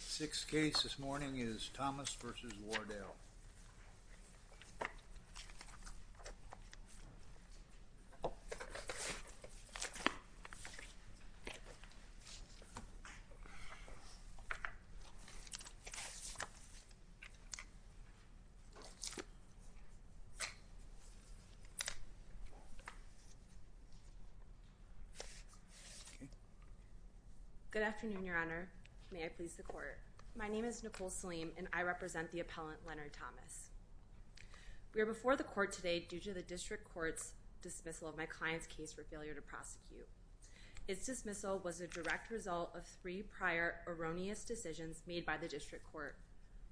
Sixth case this morning is Thomas v. Wardell. Good afternoon, Your Honor. May I please the court? My name is Nicole Salim and I represent the appellant, Leonard Thomas. We are before the court today due to the district court's dismissal of my client's case for failure to prosecute. Its dismissal was a direct result of three prior erroneous decisions made by the district court,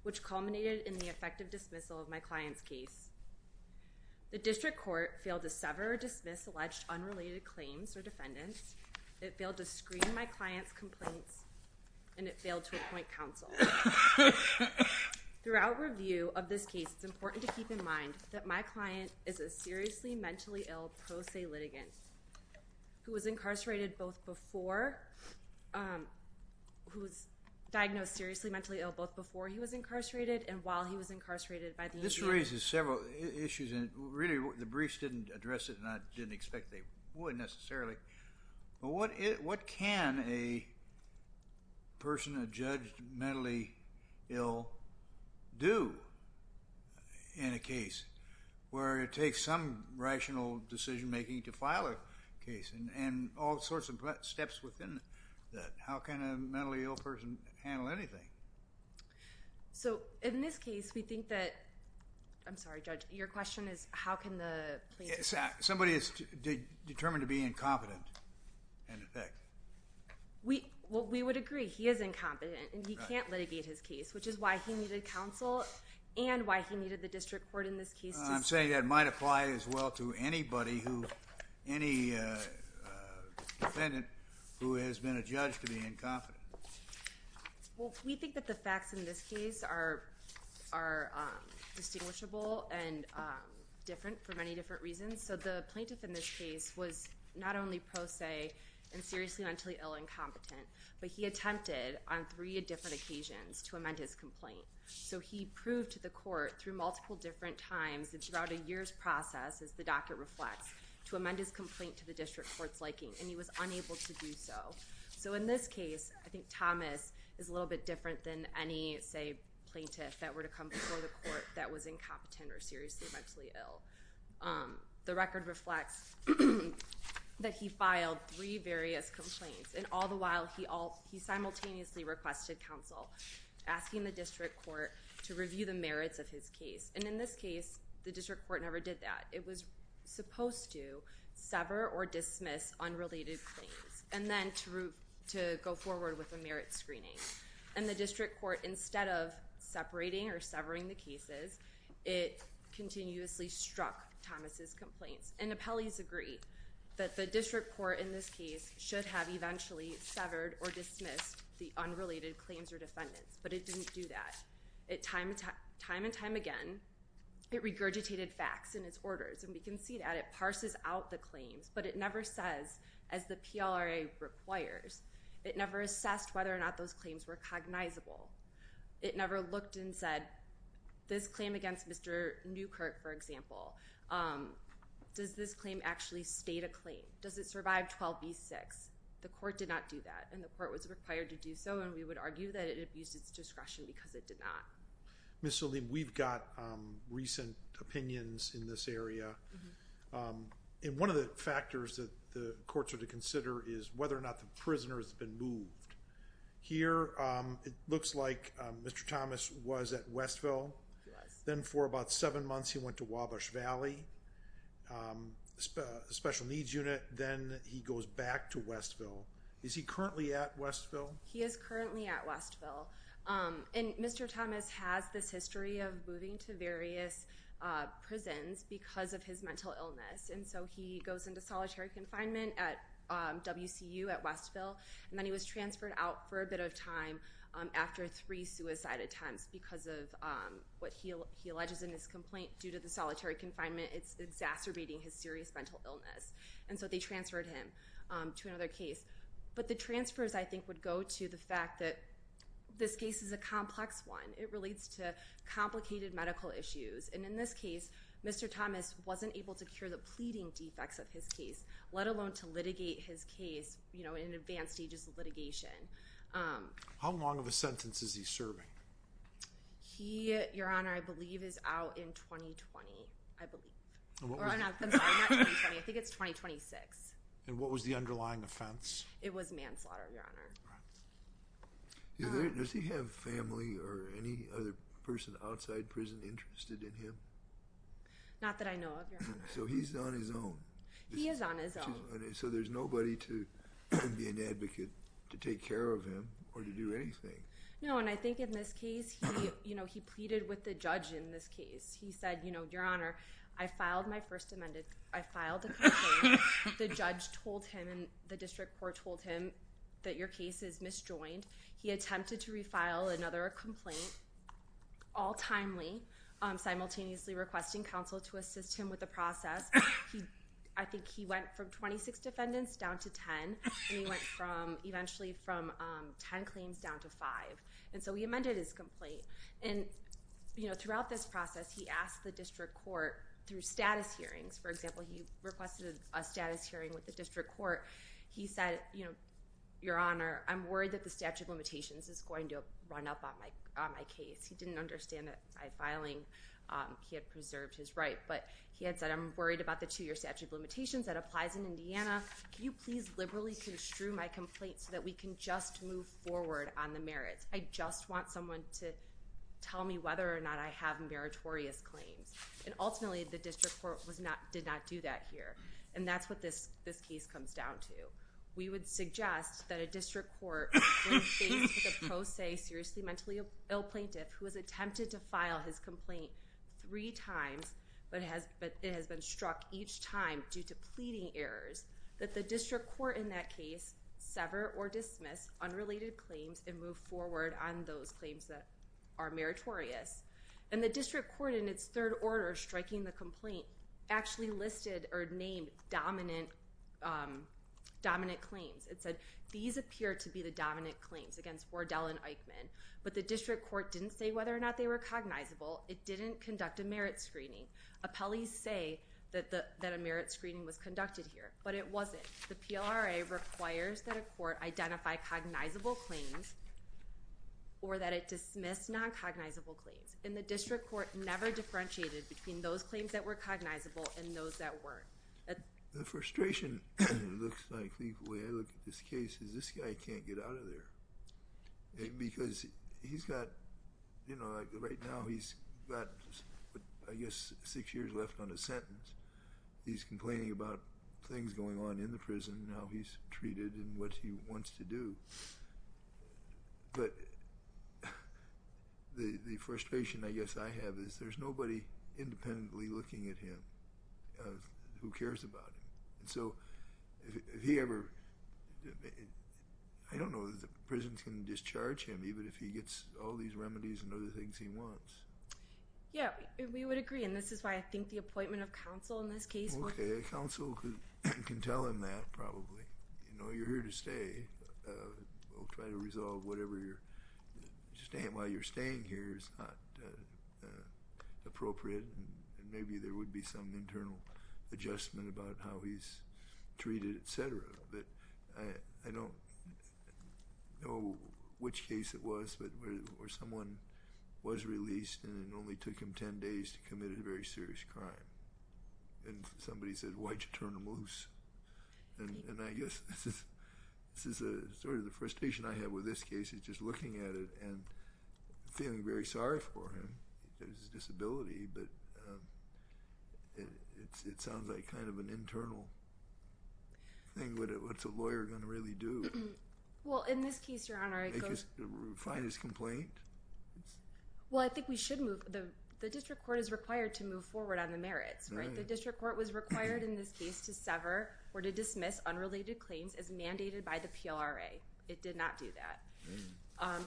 which culminated in the effective dismissal of my client's case. The district court failed to sever or dismiss alleged unrelated claims or defendants, it failed to screen my client's complaints, and it failed to appoint counsel. Throughout review of this case, it's important to keep in mind that my client is a seriously mentally ill pro se litigant who was incarcerated both before, who was diagnosed seriously mentally ill both before he was incarcerated and while This raises several issues and really the briefs didn't address it and I didn't expect they would necessarily. But what can a person, a judge, mentally ill do in a case where it takes some rational decision making to file a case and all sorts of steps within that? How can a mentally ill person handle anything? So in this case, we think that, I'm sorry judge, your question is how can the plaintiff... Somebody is determined to be incompetent in effect. We would agree, he is incompetent and he can't litigate his case, which is why he needed counsel and why he needed the district court in this case. I'm saying that might apply as well to anybody, any defendant who has been a judge to be incompetent. Well, we think that the facts in this case are distinguishable and different for many different reasons. So the plaintiff in this case was not only pro se and seriously mentally ill and incompetent, but he attempted on three different occasions to amend his complaint. So he proved to the process, as the docket reflects, to amend his complaint to the district court's liking and he was unable to do so. So in this case, I think Thomas is a little bit different than any, say, plaintiff that were to come before the court that was incompetent or seriously mentally ill. The record reflects that he filed three various complaints and all the while he simultaneously requested counsel, asking the district court to review the merits of his case. And in this case, the district court never did that. It was supposed to sever or dismiss unrelated claims and then to go forward with a merit screening. And the district court, instead of separating or severing the cases, it continuously struck Thomas' complaints. And appellees agree that the district court in this case should have eventually severed or dismissed the unrelated claims or defendants, but it didn't do that. Time and time again, it regurgitated facts in its orders. And we can see that. It parses out the claims, but it never says, as the PLRA requires, it never assessed whether or not those claims were cognizable. It never looked and said, this claim against Mr. Newkirk, for example, does this claim actually state a claim? Does it survive 12 v. 6? The court did not do that. And the court was required to do so. And we would argue that it abused its discretion because it did not. Ms. Salim, we've got recent opinions in this area. And one of the factors that the courts are to consider is whether or not the prisoner has been moved. Here, it looks like Mr. Thomas was at Westville. Then for about seven months, he went to Wabash Valley Special Needs Unit. Then he goes back to Westville. Is he currently at Westville? He is currently at Westville. And Mr. Thomas has this history of moving to various prisons because of his mental illness. And so he goes into solitary confinement at WCU at Westville. And then he was transferred out for a bit of time after three suicide attempts because of what he alleges in his complaint. Due to the solitary confinement, it's exacerbating his serious mental illness. And so they transferred him to another case. But the transfers, I think, would go to the fact that this case is a complex one. It relates to complicated medical issues. And in this case, Mr. Thomas wasn't able to cure the pleading defects of his case, let alone to litigate his case in advanced stages of litigation. How long of a sentence is he serving? He, Your Honor, I believe is out in 2020. I believe. I'm sorry, not 2020. I think it's 2026. And what was the underlying offense? It was manslaughter, Your Honor. Does he have family or any other person outside prison interested in him? Not that I know of, Your Honor. So he's on his own. He is on his own. So there's nobody to be an advocate to take care of him or to do anything. No, and I think in this case, he pleaded with the judge in this case. He said, Your Honor, I filed my first amendment. I filed a complaint. The judge told him and the district court told him that your case is misjoined. He attempted to refile another complaint, all timely, simultaneously requesting counsel to assist him with the process. I think he went from 26 defendants down to 10. And he went from eventually from 10 claims down to five. And so he amended his complaint. And throughout this process, he asked the district court through status hearings. For example, he requested a status hearing with the district court. He said, Your Honor, I'm worried that the statute of limitations is going to run up on my case. He didn't understand that by filing, he had preserved his right. But he had said, I'm worried about the two-year statute of limitations that applies in Indiana. Can you please liberally construe my complaint so that we can just move forward on the merits? I just want someone to tell me whether or not I have meritorious claims. And ultimately, the district court did not do that here. And that's what this case comes down to. We would suggest that a district court when faced with a pro se, seriously mentally ill plaintiff who has attempted to file his complaint three times, but it has been struck each time due to pleading errors, that the district court in that case sever or dismiss unrelated claims and move forward on those claims that are meritorious. And the district court in its third order striking the complaint actually listed or dominant claims. It said, these appear to be the dominant claims against Wardell and Eichmann. But the district court didn't say whether or not they were cognizable. It didn't conduct a merit screening. Appellees say that a merit screening was conducted here. But it wasn't. The PLRA requires that a court identify cognizable claims or that it dismiss non-cognizable claims. And the district court never differentiated between those claims that were cognizable and those that weren't. The frustration looks like the way I look at this case is this guy can't get out of there. Because he's got, you know, right now he's got, I guess, six years left on his sentence. He's complaining about things going on in the prison and how he's treated and what he wants to do. But the frustration, I guess, I have is there's nobody independently looking at him who cares about him. And so, if he ever, I don't know if the prison can discharge him, even if he gets all these remedies and other things he wants. Yeah, we would agree. And this is why I think the appointment of counsel in this case. Okay, counsel can tell him that probably. You know, you're here to stay. We'll try to resolve whatever you're staying. While you're staying here, it's not appropriate. And maybe there would be some internal adjustment about how he's treated, et cetera. But I don't know which case it was where someone was released and it only took him 10 days to commit a very serious crime. And somebody said, why'd you turn him loose? And I guess this is sort of the frustration I have with this case, is just looking at it and feeling very sorry for him. He has a disability, but it sounds like kind of an internal thing. What's a lawyer going to really do? Well, in this case, Your Honor, it goes— Find his complaint? Well, I think we should move. The district court is required to move forward on the merits, right? The district court was required in this case to sever or to dismiss unrelated claims as mandated by the PLRA. It did not do that.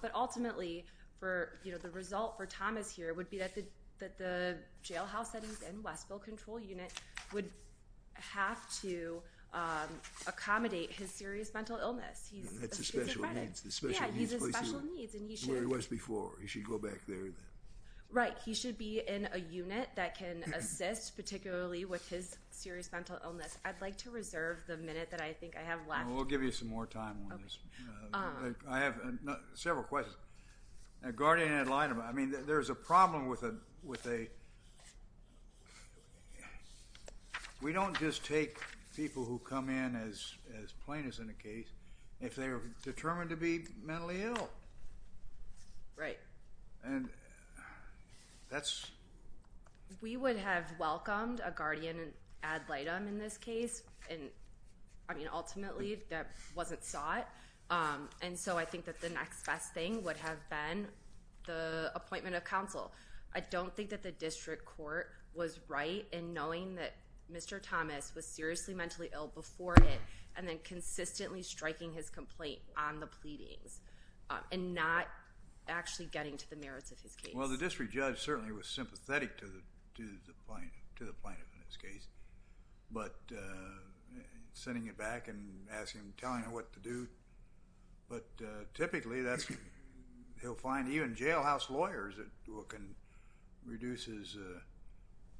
But ultimately, the result for Thomas here would be that the jailhouse settings and Westville control unit would have to accommodate his serious mental illness. That's his special needs. Yeah, he has special needs. Where he was before. He should go back there. Right. He should be in a unit that can assist, particularly with his serious mental illness. I'd like to reserve the minute that I think I have left. We'll give you some more time on this. I have several questions. Guardian had lied about it. I mean, there's a problem with a— we don't just take people who come in as plaintiffs in a case if they're determined to be mentally ill. Right. And that's— We would have welcomed a Guardian ad litem in this case. And, I mean, ultimately, that wasn't sought. And so I think that the next best thing would have been the appointment of counsel. I don't think that the district court was right in knowing that Mr. Thomas was seriously mentally ill before it and then consistently striking his complaint on the pleadings and not actually getting to the merits of his case. Well, the district judge certainly was sympathetic to the plaintiff in this case, but sending it back and asking him, telling him what to do. But typically, he'll find even jailhouse lawyers that can reduce his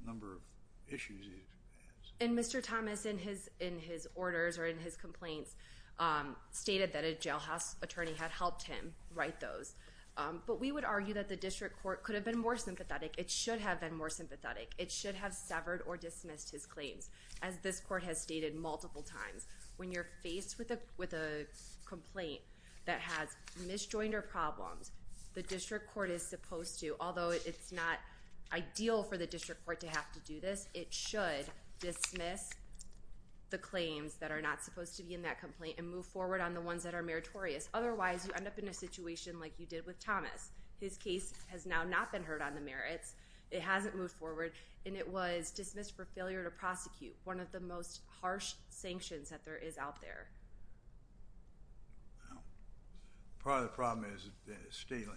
number of issues he has. And Mr. Thomas, in his orders or in his complaints, stated that a jailhouse attorney had helped him write those. But we would argue that the district court could have been more sympathetic. It should have been more sympathetic. It should have severed or dismissed his claims, as this court has stated multiple times. When you're faced with a complaint that has misjoined or problems, the district court is supposed to, although it's not ideal for the district court to have to do this, it should dismiss the claims that are not supposed to be in that complaint and move forward on the ones that are meritorious. Otherwise, you end up in a situation like you did with Thomas. His case has now not been heard on the merits. It hasn't moved forward, and it was dismissed for failure to prosecute, one of the most harsh sanctions that there is out there. Well, part of the problem is state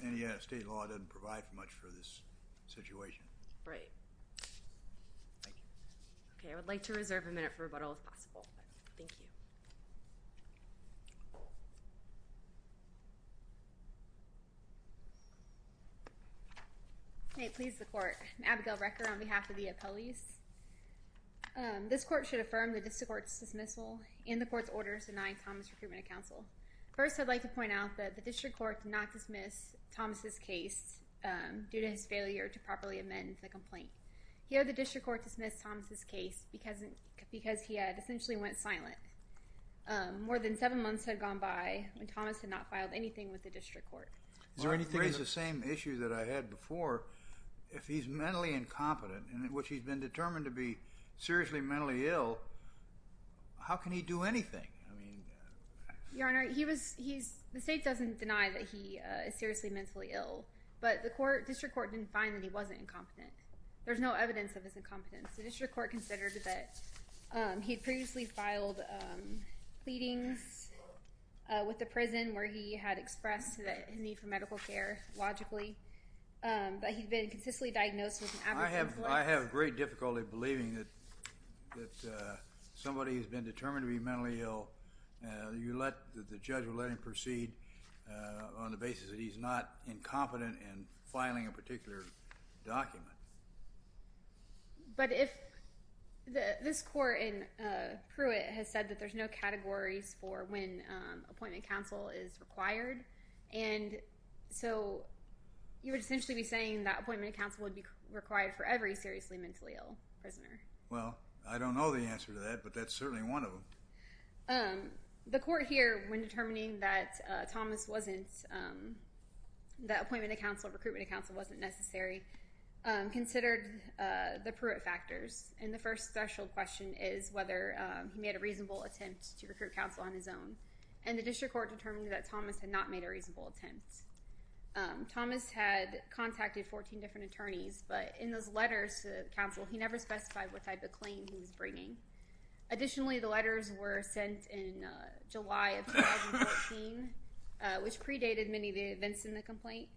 law doesn't provide much for this situation. Right. Thank you. Okay, I would like to reserve a minute for rebuttal, if possible. Thank you. May it please the court. I'm Abigail Recker on behalf of the appellees. This court should affirm the district court's dismissal. In the court's orders, deny Thomas recruitment of counsel. First, I'd like to point out that the district court did not dismiss Thomas' case due to his failure to properly amend the complaint. Here, the district court dismissed Thomas' case because he essentially went silent. More than seven months had gone by when Thomas had not filed anything with the district court. Well, it raises the same issue that I had before. If he's mentally incompetent, in which he's been determined to be seriously mentally ill, how can he do anything? Your Honor, the state doesn't deny that he is seriously mentally ill, but the district court didn't find that he wasn't incompetent. There's no evidence of his incompetence. The district court considered that he'd previously filed pleadings with the prison where he had expressed his need for medical care, logically, but he'd been consistently diagnosed with an absence of life. I have great difficulty believing that somebody has been determined to be mentally ill. You let the judge let him proceed on the basis that he's not incompetent in filing a particular document. But if this court in Pruitt has said that there's no categories for when appointment counsel is required, and so you would essentially be saying that appointment counsel would be required for every seriously mentally ill prisoner. Well, I don't know the answer to that, but that's certainly one of them. The court here, when determining that Thomas wasn't, that appointment of counsel, recruitment of counsel wasn't necessary, considered the Pruitt factors. And the first special question is whether he made a reasonable attempt to recruit counsel on his own. And the district court determined that Thomas had not made a reasonable attempt. Thomas had contacted 14 different attorneys, but in those letters to counsel, he never specified what type of claim he was bringing. Additionally, the letters were sent in July of 2014, which predated many of the events in the complaint.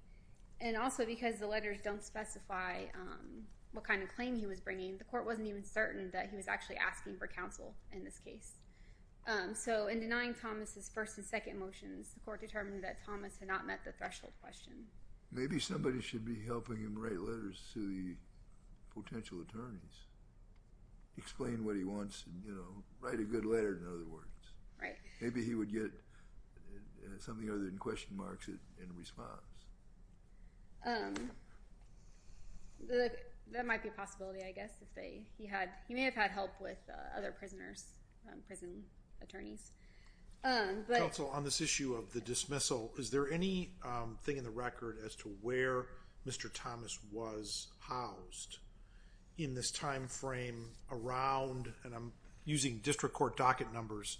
And also because the letters don't specify what kind of claim he was bringing, the court wasn't even certain that he was actually asking for counsel in this case. So in denying Thomas's first and second motions, the court determined that Thomas had not met the threshold question. Maybe somebody should be helping him write letters to the potential attorneys. Explain what he wants and, you know, write a good letter, in other words. Maybe he would get something other than question marks in response. That might be a possibility, I guess. He may have had help with other prisoners, prison attorneys. Counsel, on this issue of the dismissal, is there any thing in the record as to where Mr. Thomas was housed in this time frame around, and I'm using district court docket numbers,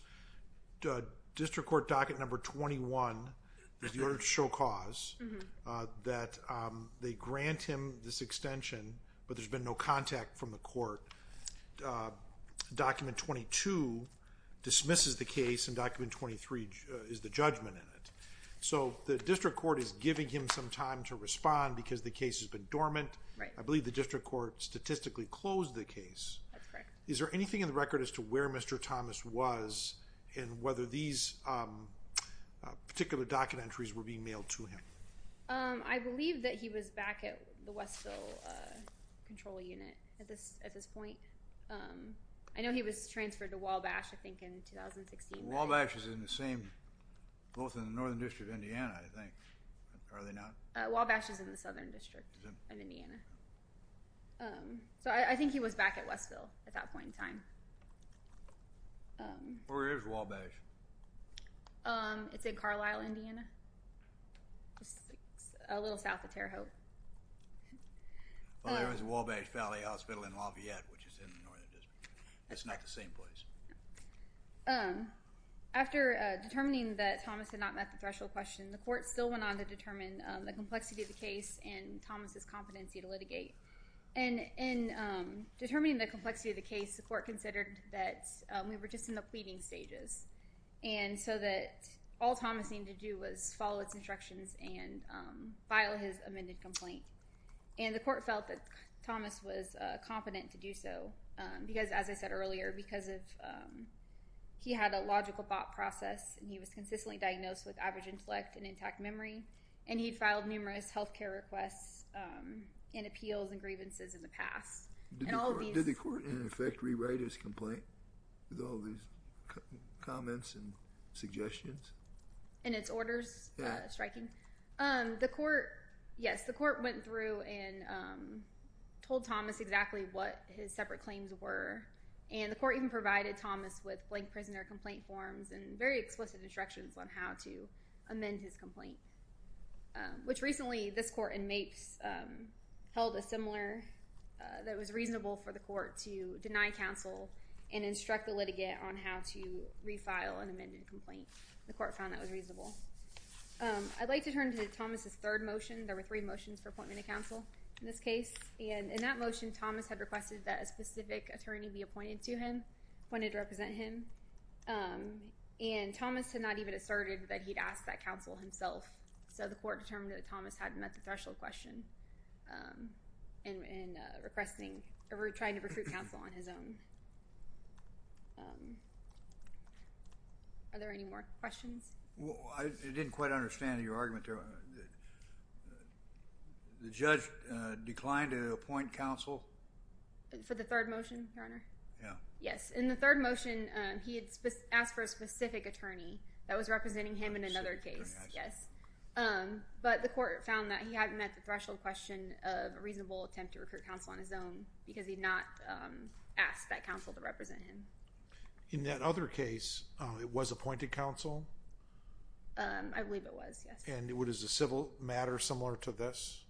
district court docket number 21, in order to show cause, that they grant him this extension, but there's been no contact from the court. Document 22 dismisses the case, and document 23 is the judgment in it. So the district court is giving him some time to respond because the case has been dormant. I believe the district court statistically closed the case. That's correct. Is there anything in the record as to where Mr. Thomas was and whether these particular docket entries were being mailed to him? I believe that he was back at the Westville control unit at this point. I know he was transferred to Wabash, I think, in 2016. Wabash is in the same, both in the northern district of Indiana, I think. Are they not? Wabash is in the southern district of Indiana. So I think he was back at Westville at that point in time. Where is Wabash? It's in Carlisle, Indiana. It's a little south of Terre Haute. There is Wabash Valley Hospital in Lafayette, which is in the northern district. It's not the same place. After determining that Thomas had not met the threshold question, the court still went on to determine the complexity of the case and Thomas' competency to litigate. In determining the complexity of the case, the court considered that we were just in the pleading stages. And so that all Thomas needed to do was follow its instructions and file his amended complaint. And the court felt that Thomas was competent to do so because, as I said earlier, because he had a logical thought process and he was consistently diagnosed with average intellect and intact memory and he had filed numerous health care requests and appeals and grievances in the past. Did the court, in effect, rewrite his complaint with all these comments and suggestions? In its orders, striking. The court, yes, the court went through and told Thomas exactly what his separate claims were. And the court even provided Thomas with blank prisoner complaint forms and very explicit instructions on how to amend his complaint, which recently this court in Mapes held a similar that was reasonable for the court to deny counsel and instruct the litigant on how to refile an amended complaint. The court found that was reasonable. I'd like to turn to Thomas' third motion. There were three motions for appointment of counsel in this case. And in that motion, Thomas had requested that a specific attorney be appointed to him, appointed to represent him. And Thomas had not even asserted that he'd ask that counsel himself. So the court determined that Thomas hadn't met the threshold question in requesting or trying to recruit counsel on his own. Are there any more questions? Well, I didn't quite understand your argument there. The judge declined to appoint counsel? For the third motion, Your Honor? Yeah. Yes, in the third motion, he had asked for a specific attorney that was representing him in another case. Yes. But the court found that he hadn't met the threshold question of a reasonable attempt to recruit counsel on his own because he'd not asked that counsel to represent him. In that other case, it was appointed counsel? I believe it was, yes. And it was a civil matter similar to this?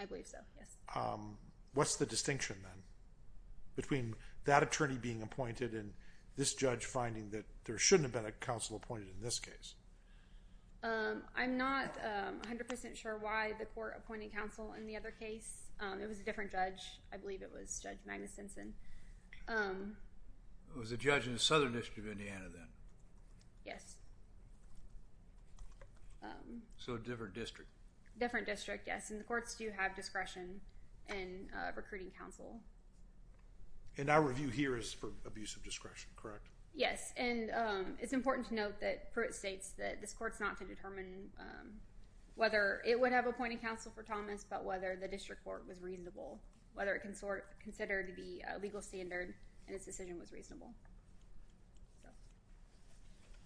I believe so, yes. What's the distinction then between that attorney being appointed and this judge finding that there shouldn't have been a counsel appointed in this case? I'm not 100% sure why the court appointed counsel in the other case. It was a different judge. I believe it was Judge Magnus Sensen. It was a judge in the Southern District of Indiana then? Yes. So a different district? Different district, yes. And the courts do have discretion in recruiting counsel. And our review here is for abuse of discretion, correct? Yes. And it's important to note that Pruitt states that this court's not to determine whether it would have appointed counsel for Thomas, but whether the district court was reasonable, whether it can be considered to be a legal standard and its decision was reasonable.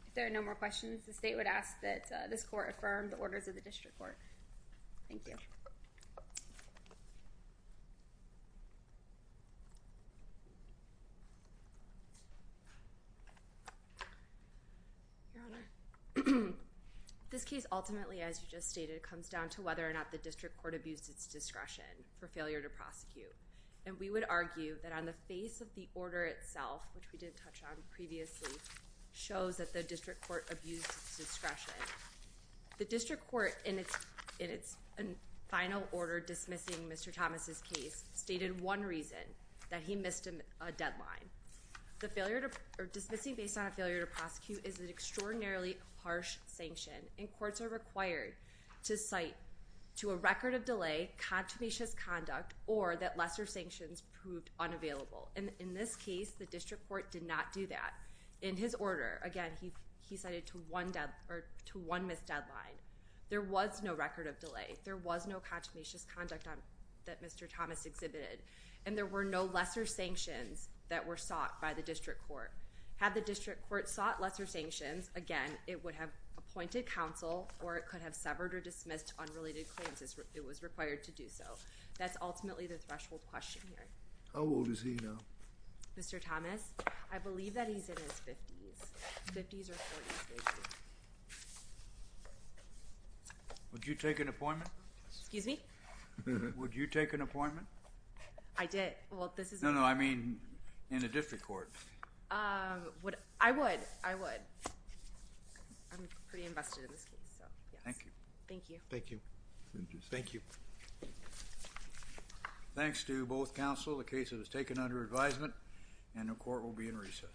If there are no more questions, the state would ask that this court affirm the orders of the district court. Thank you. Your Honor, this case ultimately, as you just stated, comes down to whether or not the district court abused its discretion for failure to prosecute. And we would argue that on the face of the order itself, which we did touch on previously, shows that the district court abused its discretion. The district court in its final order dismissing Mr. Thomas' case stated one reason, that he missed a deadline. Dismissing based on a failure to prosecute is an extraordinarily harsh sanction and courts are required to cite to a record of delay, contumacious conduct, or that lesser sanctions proved unavailable. And in this case, the district court did not do that. In his order, again, he cited to one missed deadline. There was no record of delay. There was no contumacious conduct that Mr. Thomas exhibited. And there were no lesser sanctions that were sought by the district court. Had the district court sought lesser sanctions, again, it would have appointed counsel or it could have severed or dismissed unrelated claims if it was required to do so. That's ultimately the threshold question here. How old is he now? Mr. Thomas? I believe that he's in his 50s. 50s or 40s. Would you take an appointment? Excuse me? Would you take an appointment? I did. No, no, I mean in a district court. I would. I would. I'm pretty invested in this case. Thank you. Thank you. Thank you. Thank you. Thanks to both counsel, the case is taken under advisement and the court will be in recess. Thank you.